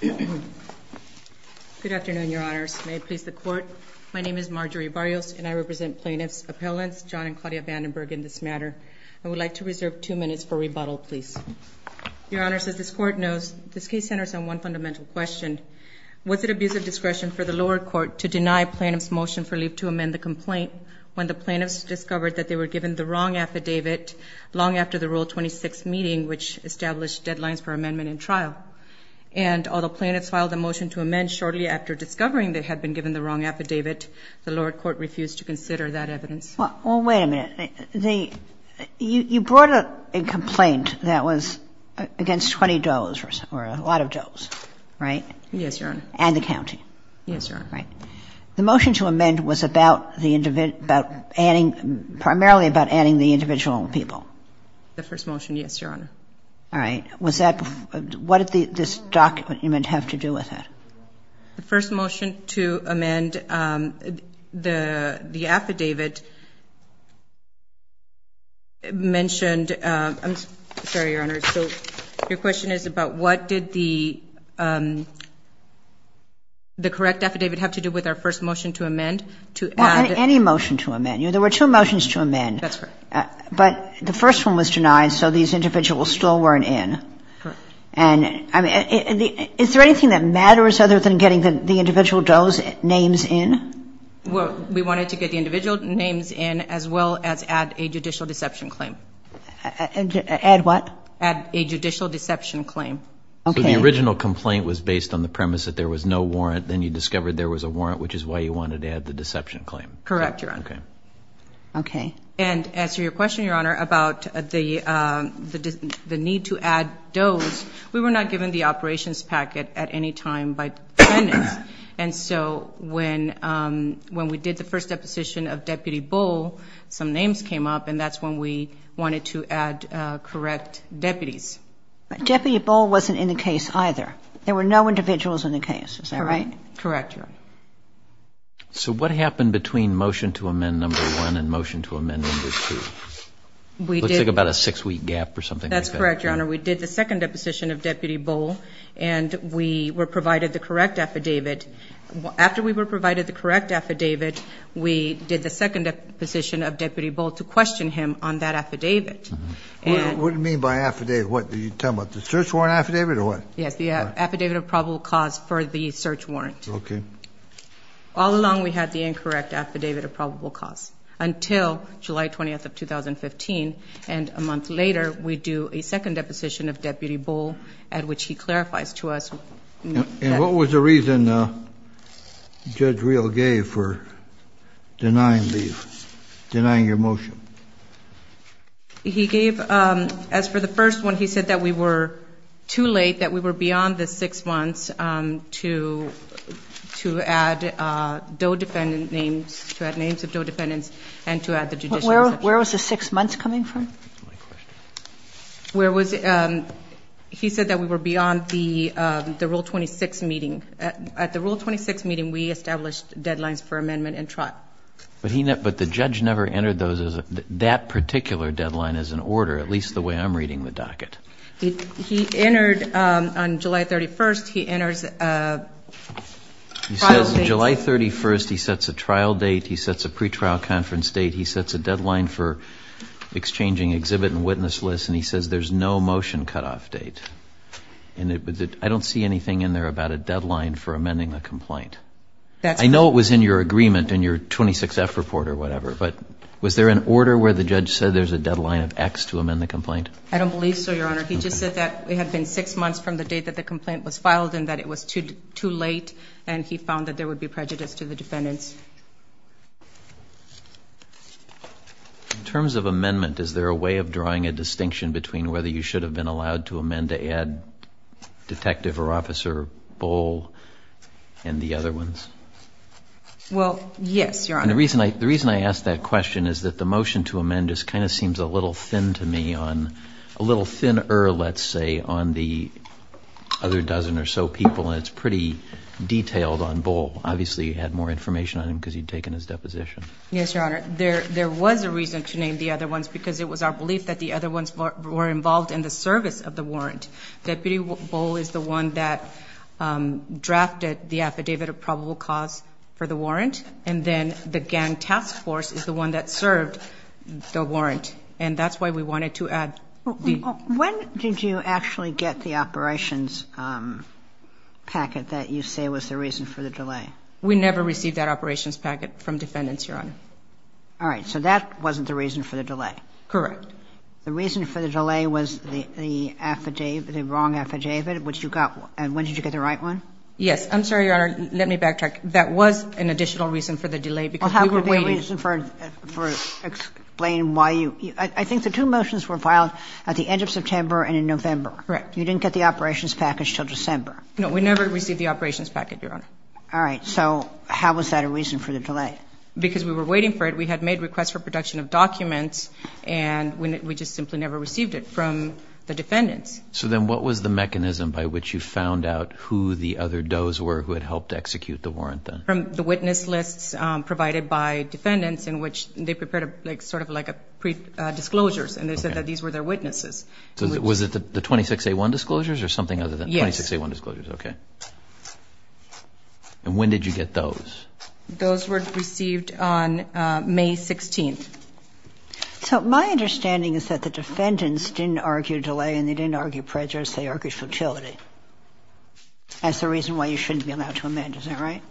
Good afternoon, Your Honors. May it please the Court, my name is Marjorie Barrios and I represent plaintiffs' appellants John and Claudia Vandenburg in this matter. I would like to reserve two minutes for rebuttal, please. Your Honors, as this Court knows, this case centers on one fundamental question. Was it abuse of discretion for the lower court to deny plaintiffs' motion for leave to amend the complaint when the plaintiffs discovered that they were given the wrong affidavit long after the Rule 26 meeting, which established deadlines for amendment in trial? And although plaintiffs filed a motion to amend shortly after discovering they had been given the wrong affidavit, the lower court refused to consider that evidence. Well, wait a minute. You brought up a complaint that was against 20 does or a lot of does, right? Yes, Your Honor. And the county. Yes, Your Honor. Right. The motion to amend was about adding, primarily about adding the individual people. The first motion, yes, Your Honor. All right. Was that, what did this document have to do with it? The first motion to amend the affidavit mentioned, I'm sorry, Your Honor, so your question is about what did the correct affidavit have to do with our first motion to amend? Well, any motion to amend. There were two motions to amend. That's correct. But the first one was denied, so these individuals still weren't in. Correct. And, I mean, is there anything that matters other than getting the individual does names in? Well, we wanted to get the individual names in as well as add a judicial deception claim. Add what? Add a judicial deception claim. Okay. So the original complaint was based on the premise that there was no warrant. Then you discovered there was a warrant, which is why you wanted to add the deception claim. Correct, Your Honor. Okay. And to answer your question, Your Honor, about the need to add those, we were not given the operations packet at any time by defendants. And so when we did the first deposition of Deputy Bull, some names came up and that's when we wanted to add correct deputies. But Deputy Bull wasn't in the case either. There were no individuals in the case. Is that right? Correct, Your Honor. So what happened between motion to amend number one and motion to amend number two? It looks like about a six-week gap or something like that. That's correct, Your Honor. We did the second deposition of Deputy Bull and we were provided the correct affidavit. After we were provided the correct affidavit, we did the second deposition of Deputy Bull to question him on that affidavit. What do you mean by affidavit? What, are you talking about the search warrant affidavit or what? Yes, the affidavit of probable cause for the search warrant. Okay. All along we had the incorrect affidavit of probable cause until July 20th of 2015, and a month later we do a second deposition of Deputy Bull at which he clarifies to us. And what was the reason Judge Reel gave for denying your motion? He gave, as for the first one, he said that we were too late, that we were beyond the six months to add DOE defendant names, to add names of DOE defendants and to add the judicial exception. Where was the six months coming from? He said that we were beyond the Rule 26 meeting. At the Rule 26 meeting we established deadlines for amendment and trial. But the judge never entered that particular deadline as an order, at least the way I'm reading the docket. He entered on July 31st, he enters a trial date. He says on July 31st he sets a trial date, he sets a pretrial conference date, he sets a deadline for exchanging exhibit and witness list, and he says there's no motion cutoff date. I don't see anything in there about a deadline for amending the complaint. I know it was in your agreement in your 26F report or whatever, but was there an order where the judge said there's a deadline of X to amend the complaint? I don't believe so, Your Honor. He just said that it had been six months from the date that the complaint was filed and that it was too late and he found that there would be prejudice to the defendants. In terms of amendment, is there a way of drawing a distinction between whether you should have been allowed to amend to add Detective or Officer Bull and the other ones? Well, yes, Your Honor. And the reason I ask that question is that the motion to amend just kind of seems a little thin to me, a little thinner, let's say, on the other dozen or so people, and it's pretty detailed on Bull. Obviously you had more information on him because you'd taken his deposition. Yes, Your Honor. There was a reason to name the other ones because it was our belief that the other ones were involved in the service of the warrant. Deputy Bull is the one that drafted the affidavit of probable cause for the warrant, and then the gang task force is the one that served the warrant. And that's why we wanted to add the... When did you actually get the operations packet that you say was the reason for the delay? We never received that operations packet from defendants, Your Honor. All right. So that wasn't the reason for the delay. Correct. The reason for the delay was the wrong affidavit, which you got. When did you get the right one? Yes. I'm sorry, Your Honor. Let me backtrack. That was an additional reason for the delay because we were waiting... Well, how could there be a reason for explaining why you... I think the two motions were filed at the end of September and in November. Correct. You didn't get the operations package until December. No, we never received the operations packet, Your Honor. All right. So how was that a reason for the delay? Because we were waiting for it. We had made requests for production of documents, and we just simply never received it from the defendants. So then what was the mechanism by which you found out who the other does were who had helped execute the warrant then? From the witness lists provided by defendants, in which they prepared sort of like disclosures, and they said that these were their witnesses. Was it the 26-A-1 disclosures or something other than 26-A-1 disclosures? Yes. Okay. And when did you get those? Those were received on May 16th. So my understanding is that the defendants didn't argue delay and they didn't argue prejudice, they argued futility. That's the reason why you shouldn't be allowed to amend, is that right?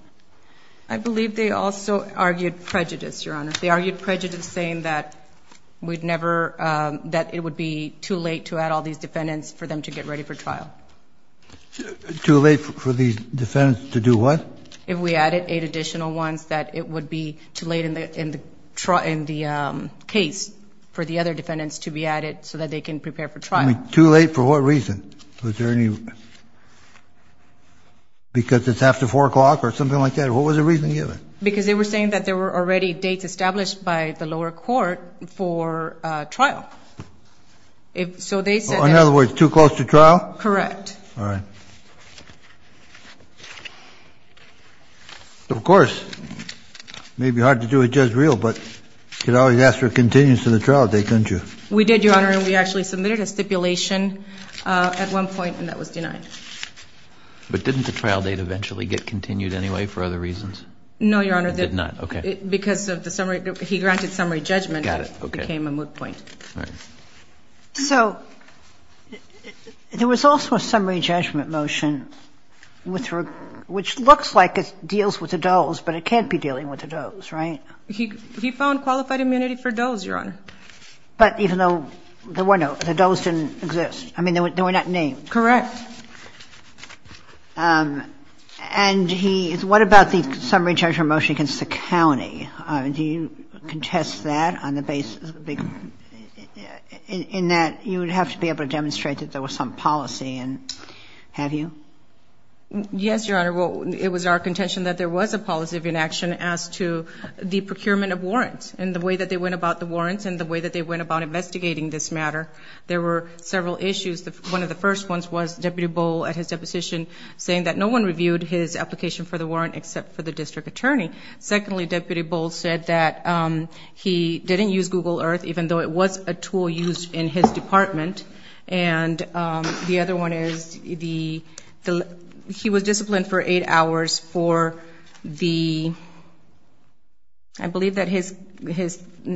I believe they also argued prejudice, Your Honor. They argued prejudice saying that it would be too late to add all these defendants for them to get ready for trial. Too late for these defendants to do what? If we added eight additional ones, that it would be too late in the case for the other defendants to be added so that they can prepare for trial. Too late for what reason? Was there any, because it's after 4 o'clock or something like that? What was the reason given? Because they were saying that there were already dates established by the lower court for trial. So they said that. In other words, too close to trial? Correct. All right. Of course, it may be hard to do it just real, but you could always ask for a continuous to the trial date, couldn't you? We did, Your Honor, and we actually submitted a stipulation at one point and that was denied. But didn't the trial date eventually get continued anyway for other reasons? No, Your Honor. It did not. Okay. Because of the summary, he granted summary judgment. Got it. Okay. It became a moot point. All right. So there was also a summary judgment motion which looks like it deals with the doles, but it can't be dealing with the doles, right? He found qualified immunity for doles, Your Honor. But even though there were no, the doles didn't exist. I mean, they were not named. Correct. And he, what about the summary judgment motion against the county? Do you contest that on the basis of the big, in that you would have to be able to demonstrate that there was some policy and have you? Yes, Your Honor. Well, it was our contention that there was a policy of inaction as to the procurement of warrants and the way that they went about the warrants and the way that they went about investigating this matter. There were several issues. One of the first ones was Deputy Boal at his deposition saying that no one reviewed his application for the warrant except for the district attorney. Secondly, Deputy Boal said that he didn't use Google Earth, even though it was a tool used in his department. And the other one is he was disciplined for eight hours for the, I believe that his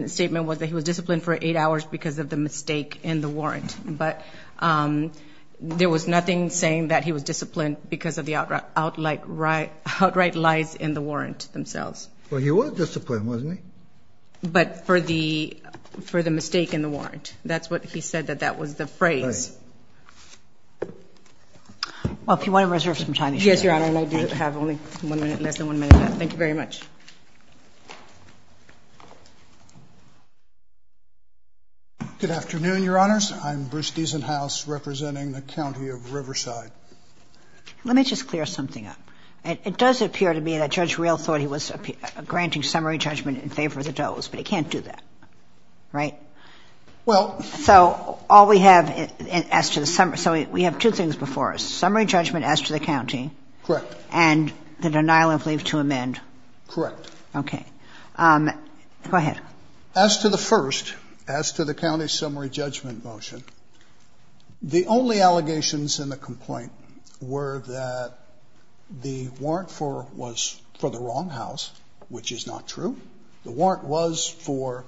statement was that he was disciplined for eight hours because of the mistake in the warrant. But there was nothing saying that he was disciplined because of the outright lies in the warrant themselves. Well, he was disciplined, wasn't he? But for the mistake in the warrant. That's what he said, that that was the phrase. Right. Well, if you want to reserve some time, you should. Yes, Your Honor, and I do have only one minute, less than one minute left. Thank you very much. Good afternoon, Your Honors. I'm Bruce Diesenhaus representing the County of Riverside. Let me just clear something up. It does appear to me that Judge Rehl thought he was granting summary judgment in favor of the Doe's, but he can't do that, right? Well. So all we have as to the summary. So we have two things before us, summary judgment as to the county. Correct. And the denial of leave to amend. Correct. Okay. Go ahead. As to the first, as to the county's summary judgment motion, the only allegations in the complaint were that the warrant for it was for the wrong house, which is not true. The warrant was for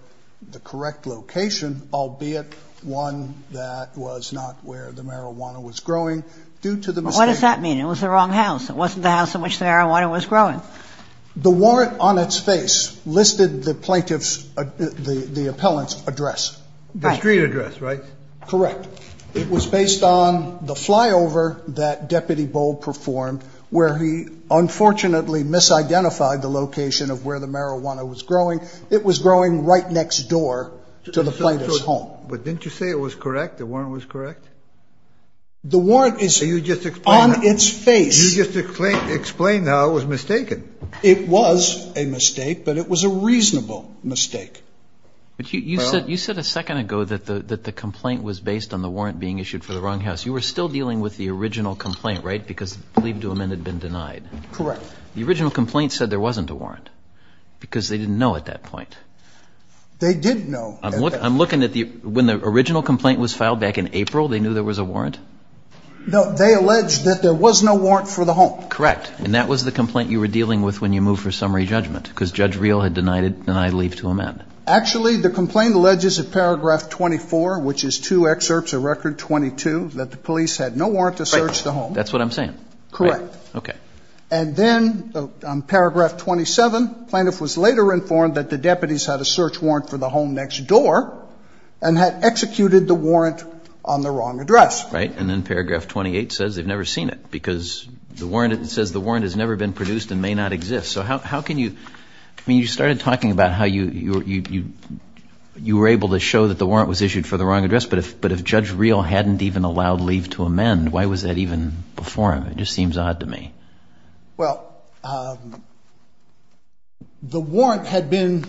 the correct location, albeit one that was not where the marijuana was growing. Due to the mistake. What does that mean? It was the wrong house. It wasn't the house in which the marijuana was growing. The warrant on its face listed the plaintiff's, the appellant's address. Right. The street address, right? Correct. It was based on the flyover that Deputy Boal performed where he unfortunately misidentified the location of where the marijuana was growing. It was growing right next door to the plaintiff's home. But didn't you say it was correct, the warrant was correct? The warrant is on its face. You just explained how it was mistaken. It was a mistake, but it was a reasonable mistake. But you said a second ago that the complaint was based on the warrant being issued for the wrong house. You were still dealing with the original complaint, right, because leave to amend had been denied. Correct. The original complaint said there wasn't a warrant because they didn't know at that point. They didn't know. I'm looking at the, when the original complaint was filed back in April, they knew there was a warrant? No, they alleged that there was no warrant for the home. Correct. And that was the complaint you were dealing with when you moved for summary judgment because Judge Reel had denied leave to amend. Actually, the complaint alleges in paragraph 24, which is two excerpts of record 22, that the police had no warrant to search the home. That's what I'm saying. Correct. Okay. And then on paragraph 27, plaintiff was later informed that the deputies had a search warrant for the home next door and had executed the warrant on the wrong address. Right. And then paragraph 28 says they've never seen it because the warrant, it says the warrant has never been produced and may not exist. So how can you, I mean, you started talking about how you were able to show that the warrant was issued for the wrong address, but if Judge Reel hadn't even allowed leave to amend, why was that even before him? It just seems odd to me. Well, the warrant had been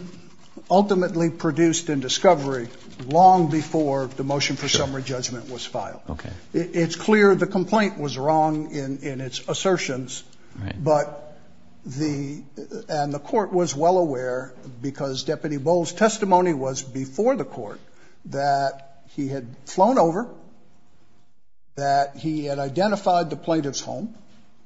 ultimately produced in discovery long before the motion for summary judgment was filed. Okay. It's clear the complaint was wrong in its assertions. Right. But the, and the court was well aware because Deputy Bowles' testimony was before the court that he had flown over, that he had identified the plaintiff's home.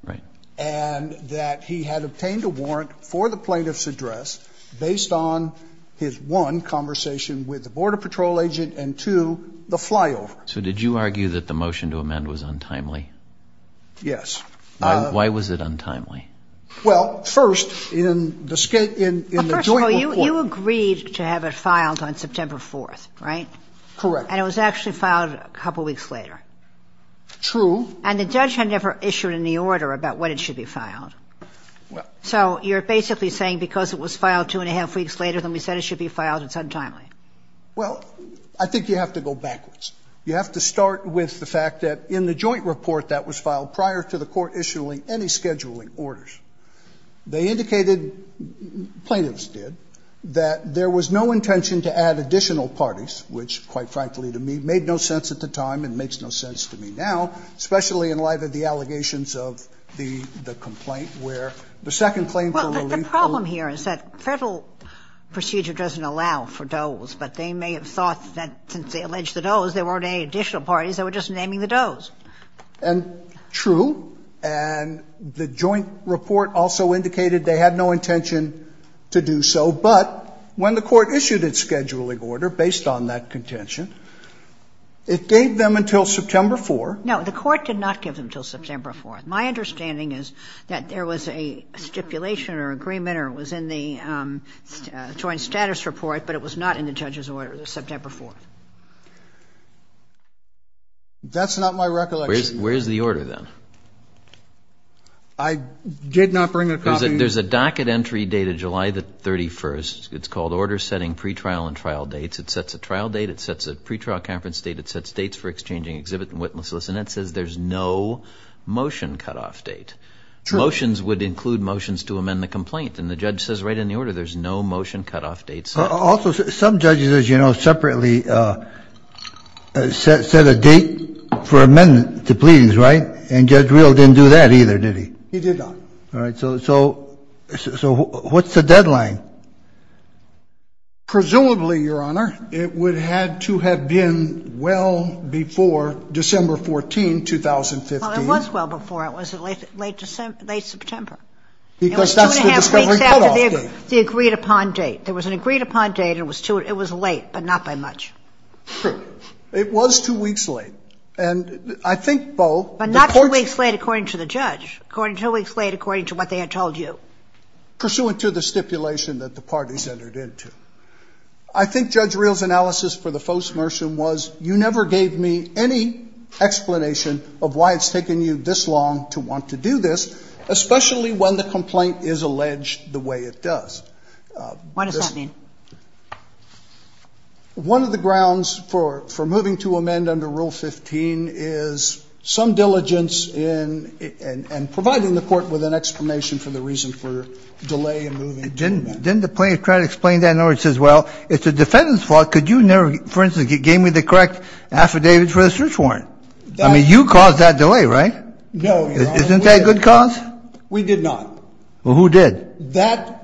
Right. And that he had obtained a warrant for the plaintiff's address based on his, one, conversation with the border patrol agent, and two, the flyover. So did you argue that the motion to amend was untimely? Yes. Why was it untimely? Well, first, in the joint report. Well, first of all, you agreed to have it filed on September 4th, right? Correct. And it was actually filed a couple weeks later. True. And the judge had never issued any order about when it should be filed. Well. So you're basically saying because it was filed two and a half weeks later than we said it should be filed, it's untimely. Well, I think you have to go backwards. You have to start with the fact that in the joint report that was filed prior to the They indicated, plaintiffs did, that there was no intention to add additional parties, which, quite frankly to me, made no sense at the time and makes no sense to me now, especially in light of the allegations of the complaint where the second claim for relief. Well, the problem here is that Federal procedure doesn't allow for does, but they may have thought that since they alleged the does, there weren't any additional parties, they were just naming the does. And true. And the joint report also indicated they had no intention to do so. But when the court issued its scheduling order, based on that contention, it gave them until September 4th. No, the court did not give them until September 4th. My understanding is that there was a stipulation or agreement or it was in the joint status report, but it was not in the judge's order, September 4th. That's not my recollection. Where is the order then? I did not bring a copy. There's a docket entry date of July 31st. It's called Order Setting Pretrial and Trial Dates. It sets a trial date. It sets a pretrial conference date. It sets dates for exchanging exhibit and witnesses. And it says there's no motion cutoff date. True. Motions would include motions to amend the complaint. And the judge says right in the order, there's no motion cutoff date set. Also, some judges, as you know, separately set a date for amendment to pleadings, right? And Judge Reel didn't do that either, did he? He did not. All right. So what's the deadline? Presumably, Your Honor, it would have to have been well before December 14, 2015. Well, it was well before. It was late September. Because that's the discovery cutoff date. It was two and a half weeks after the agreed-upon date. There was an agreed-upon date. It was late, but not by much. True. It was two weeks late. And I think both the court's But not two weeks late according to the judge. Two weeks late according to what they had told you. Pursuant to the stipulation that the parties entered into. I think Judge Reel's analysis for the faux submersion was you never gave me any explanation of why it's taken you this long to want to do this, especially when the complaint is alleged the way it does. What does that mean? One of the grounds for moving to amend under Rule 15 is some diligence in providing the court with an explanation for the reason for delay in moving to amend. Didn't the plaintiff try to explain that in order to say, well, it's a defendant's fault. Could you never, for instance, give me the correct affidavit for the search warrant? I mean, you caused that delay, right? No, Your Honor. Isn't that a good cause? We did not. Well, who did? Well, you did. You did. And that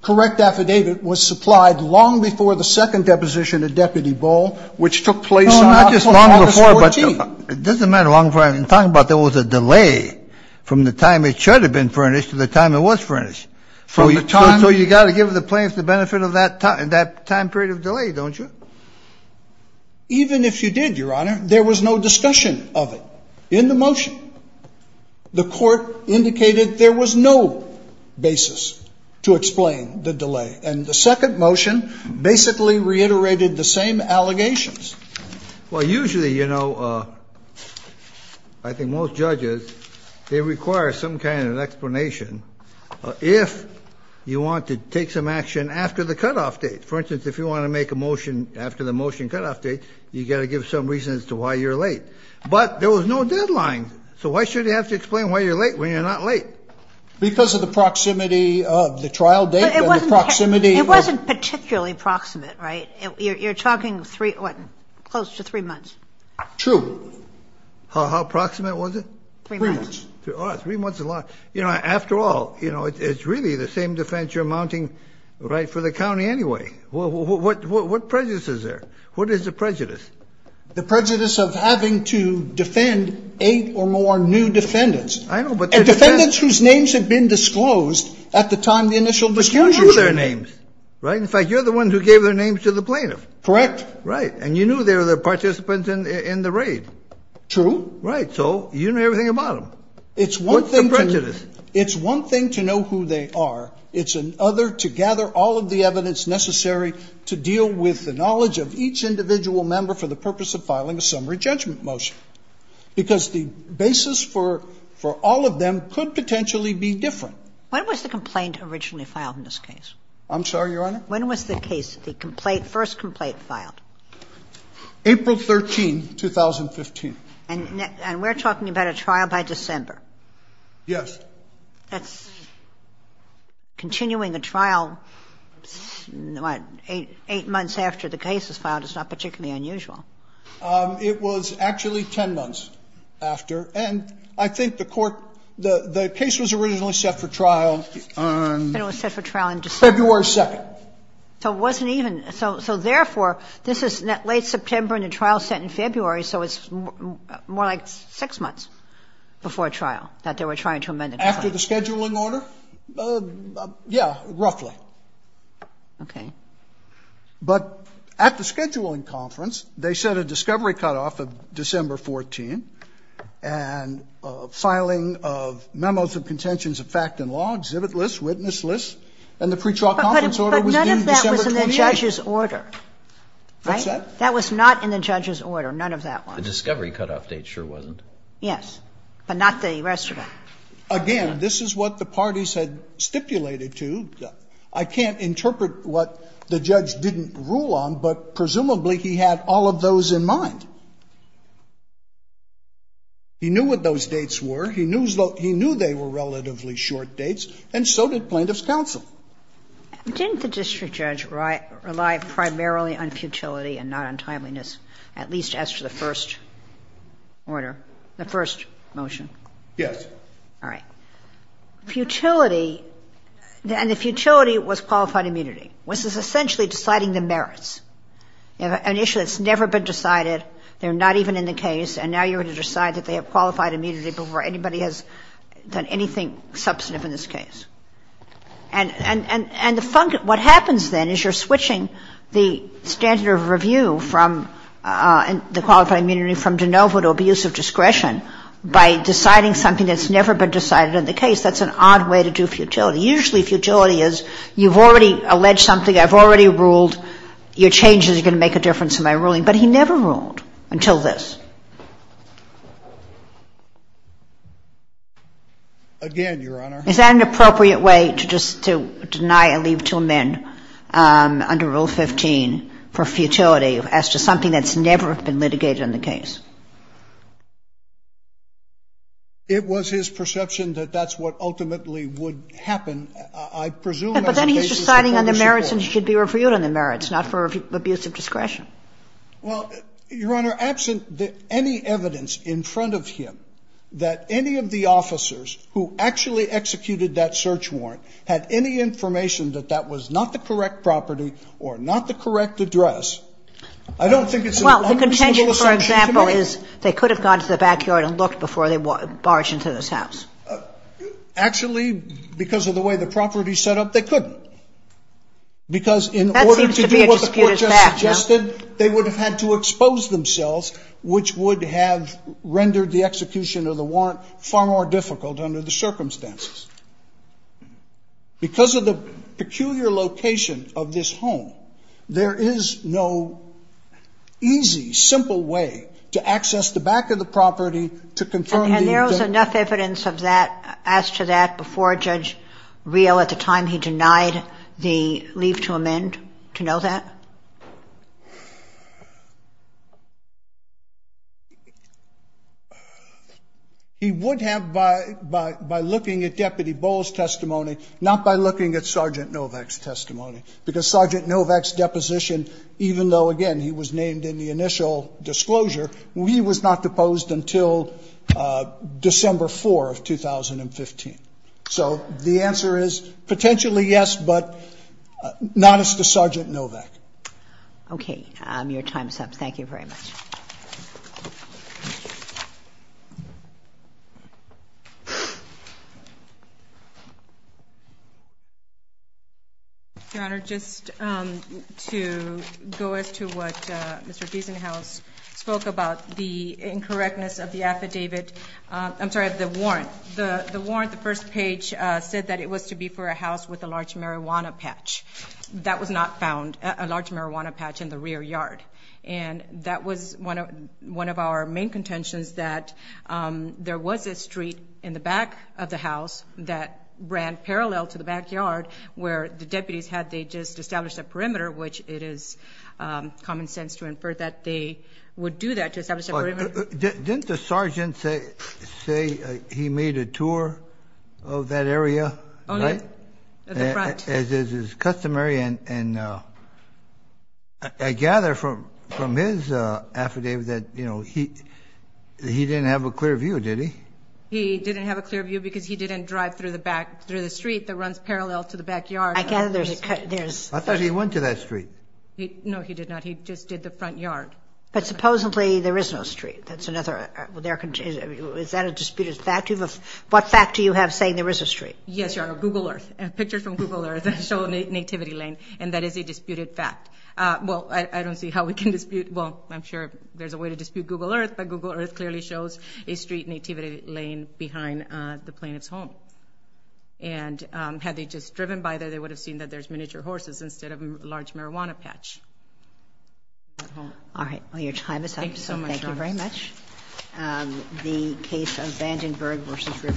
correct affidavit was supplied long before the second deposition of Deputy Bull, which took place on August 14th. No, not just long before, but it doesn't matter how long before. I'm talking about there was a delay from the time it should have been furnished to the time it was furnished. From the time... So you've got to give the plaintiff the benefit of that time period of delay, don't you? Even if you did, Your Honor, there was no discussion of it in the motion. The court indicated there was no basis to explain the delay. And the second motion basically reiterated the same allegations. Well, usually, you know, I think most judges, they require some kind of explanation if you want to take some action after the cutoff date. For instance, if you want to make a motion after the motion cutoff date, you've got to give some reason as to why you're late. But there was no deadline. So why should you have to explain why you're late when you're not late? Because of the proximity of the trial date and the proximity of... It wasn't particularly proximate, right? You're talking three, what, close to three months. True. How proximate was it? Three months. Three months is a lot. You know, after all, you know, it's really the same defense you're mounting, right, for the county anyway. What prejudice is there? What is the prejudice? The prejudice of having to defend eight or more new defendants. I know, but... And defendants whose names had been disclosed at the time of the initial discussion. But you knew their names, right? In fact, you're the one who gave their names to the plaintiff. Correct. Right. And you knew they were the participants in the raid. Right. So you knew everything about them. It's one thing... What's the prejudice? It's one thing to know who they are. It's another to gather all of the evidence necessary to deal with the knowledge of each individual member for the purpose of filing a summary judgment motion. Because the basis for all of them could potentially be different. When was the complaint originally filed in this case? I'm sorry, Your Honor? When was the case, the complaint, first complaint filed? April 13, 2015. And we're talking about a trial by December? Yes. That's continuing a trial, what, 8 months after the case is filed is not particularly unusual. It was actually 10 months after. And I think the court, the case was originally set for trial on... It was set for trial on December... February 2nd. So it wasn't even, so therefore, this is late September and the trial is set in February, so it's more like 6 months before trial that they were trying to amend the complaint. After the scheduling order? Yeah, roughly. Okay. But at the scheduling conference, they set a discovery cutoff of December 14, and filing of memos of contentions of fact and law, exhibit lists, witness lists, and the pretrial conference order was due December 28. But none of that was in the judge's order. What's that? That was not in the judge's order. None of that was. The discovery cutoff date sure wasn't. Yes. But not the rest of it. Again, this is what the parties had stipulated to. I can't interpret what the judge didn't rule on, but presumably he had all of those in mind. He knew what those dates were. He knew they were relatively short dates, and so did plaintiff's counsel. Didn't the district judge rely primarily on futility and not on timeliness, at least as to the first order, the first motion? Yes. All right. Futility, and the futility was qualified immunity, which is essentially deciding the merits. An issue that's never been decided, they're not even in the case, and now you're going to decide that they have qualified immunity before anybody has done anything substantive in this case. And what happens then is you're switching the standard of review from the qualified immunity from de novo to abuse of discretion by deciding something that's never been decided in the case. That's an odd way to do futility. Usually futility is you've already alleged something, I've already ruled your changes are going to make a difference in my ruling, but he never ruled until this. Again, Your Honor. Is that an appropriate way to just deny a leave to amend under Rule 15 for futility as to something that's never been litigated in the case? It was his perception that that's what ultimately would happen. I presume as the case is a partnership court. But then he's deciding on the merits and it should be reviewed on the merits, not for abuse of discretion. Well, Your Honor, absent any evidence in front of him that any of the officers who actually executed that search warrant had any information that that was not the correct property or not the correct address, I don't think it's an understandable assumption to make. Well, the contention, for example, is they could have gone to the backyard and looked before they barged into this house. Actually, because of the way the property is set up, they couldn't. Because in order to do what the court just suggested, they would have had to expose under the circumstances. Because of the peculiar location of this home, there is no easy, simple way to access the back of the property to confirm the event. And there was enough evidence of that, as to that, before Judge Reel at the time he denied the leave to amend to know that? He would have, by looking at Deputy Bowles' testimony, not by looking at Sergeant Novak's testimony, because Sergeant Novak's deposition, even though, again, he was named in the initial disclosure, he was not deposed until December 4 of 2015. So the answer is potentially yes, but not as to Sergeant Novak. Okay. Your time's up. Thank you very much. Your Honor, just to go as to what Mr. Giesenhaus spoke about, the incorrectness of the affidavit, I'm sorry, of the warrant. The warrant, the first page, said that it was to be for a house with a large marijuana patch. That was not found, a large marijuana patch in the rear yard. And that was one of our main contentions, that there was a street in the back of the house that ran parallel to the backyard where the deputies, had they just established a perimeter, which it is common sense to infer that they would do that, to establish a perimeter. Didn't the sergeant say he made a tour of that area? Only at the front. As is customary, and I gather from his affidavit that he didn't have a clear view, did he? He didn't have a clear view because he didn't drive through the street that runs parallel to the backyard. I thought he went to that street. No, he did not. He just did the front yard. But supposedly there is no street. Is that a disputed fact? What fact do you have saying there is a street? Yes, Your Honor. Google Earth. Pictures from Google Earth show a nativity lane, and that is a disputed fact. Well, I don't see how we can dispute, well, I'm sure there's a way to dispute Google Earth, but Google Earth clearly shows a street nativity lane behind the plaintiff's home. And had they just driven by there, they would have seen that there's miniature horses instead of a large marijuana patch. All right. Your time is up. Thank you very much. The case of Vandenberg v.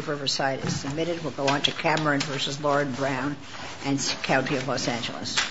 Riverside is submitted. We'll go on to Cameron v. Lord Brown and County of Los Angeles.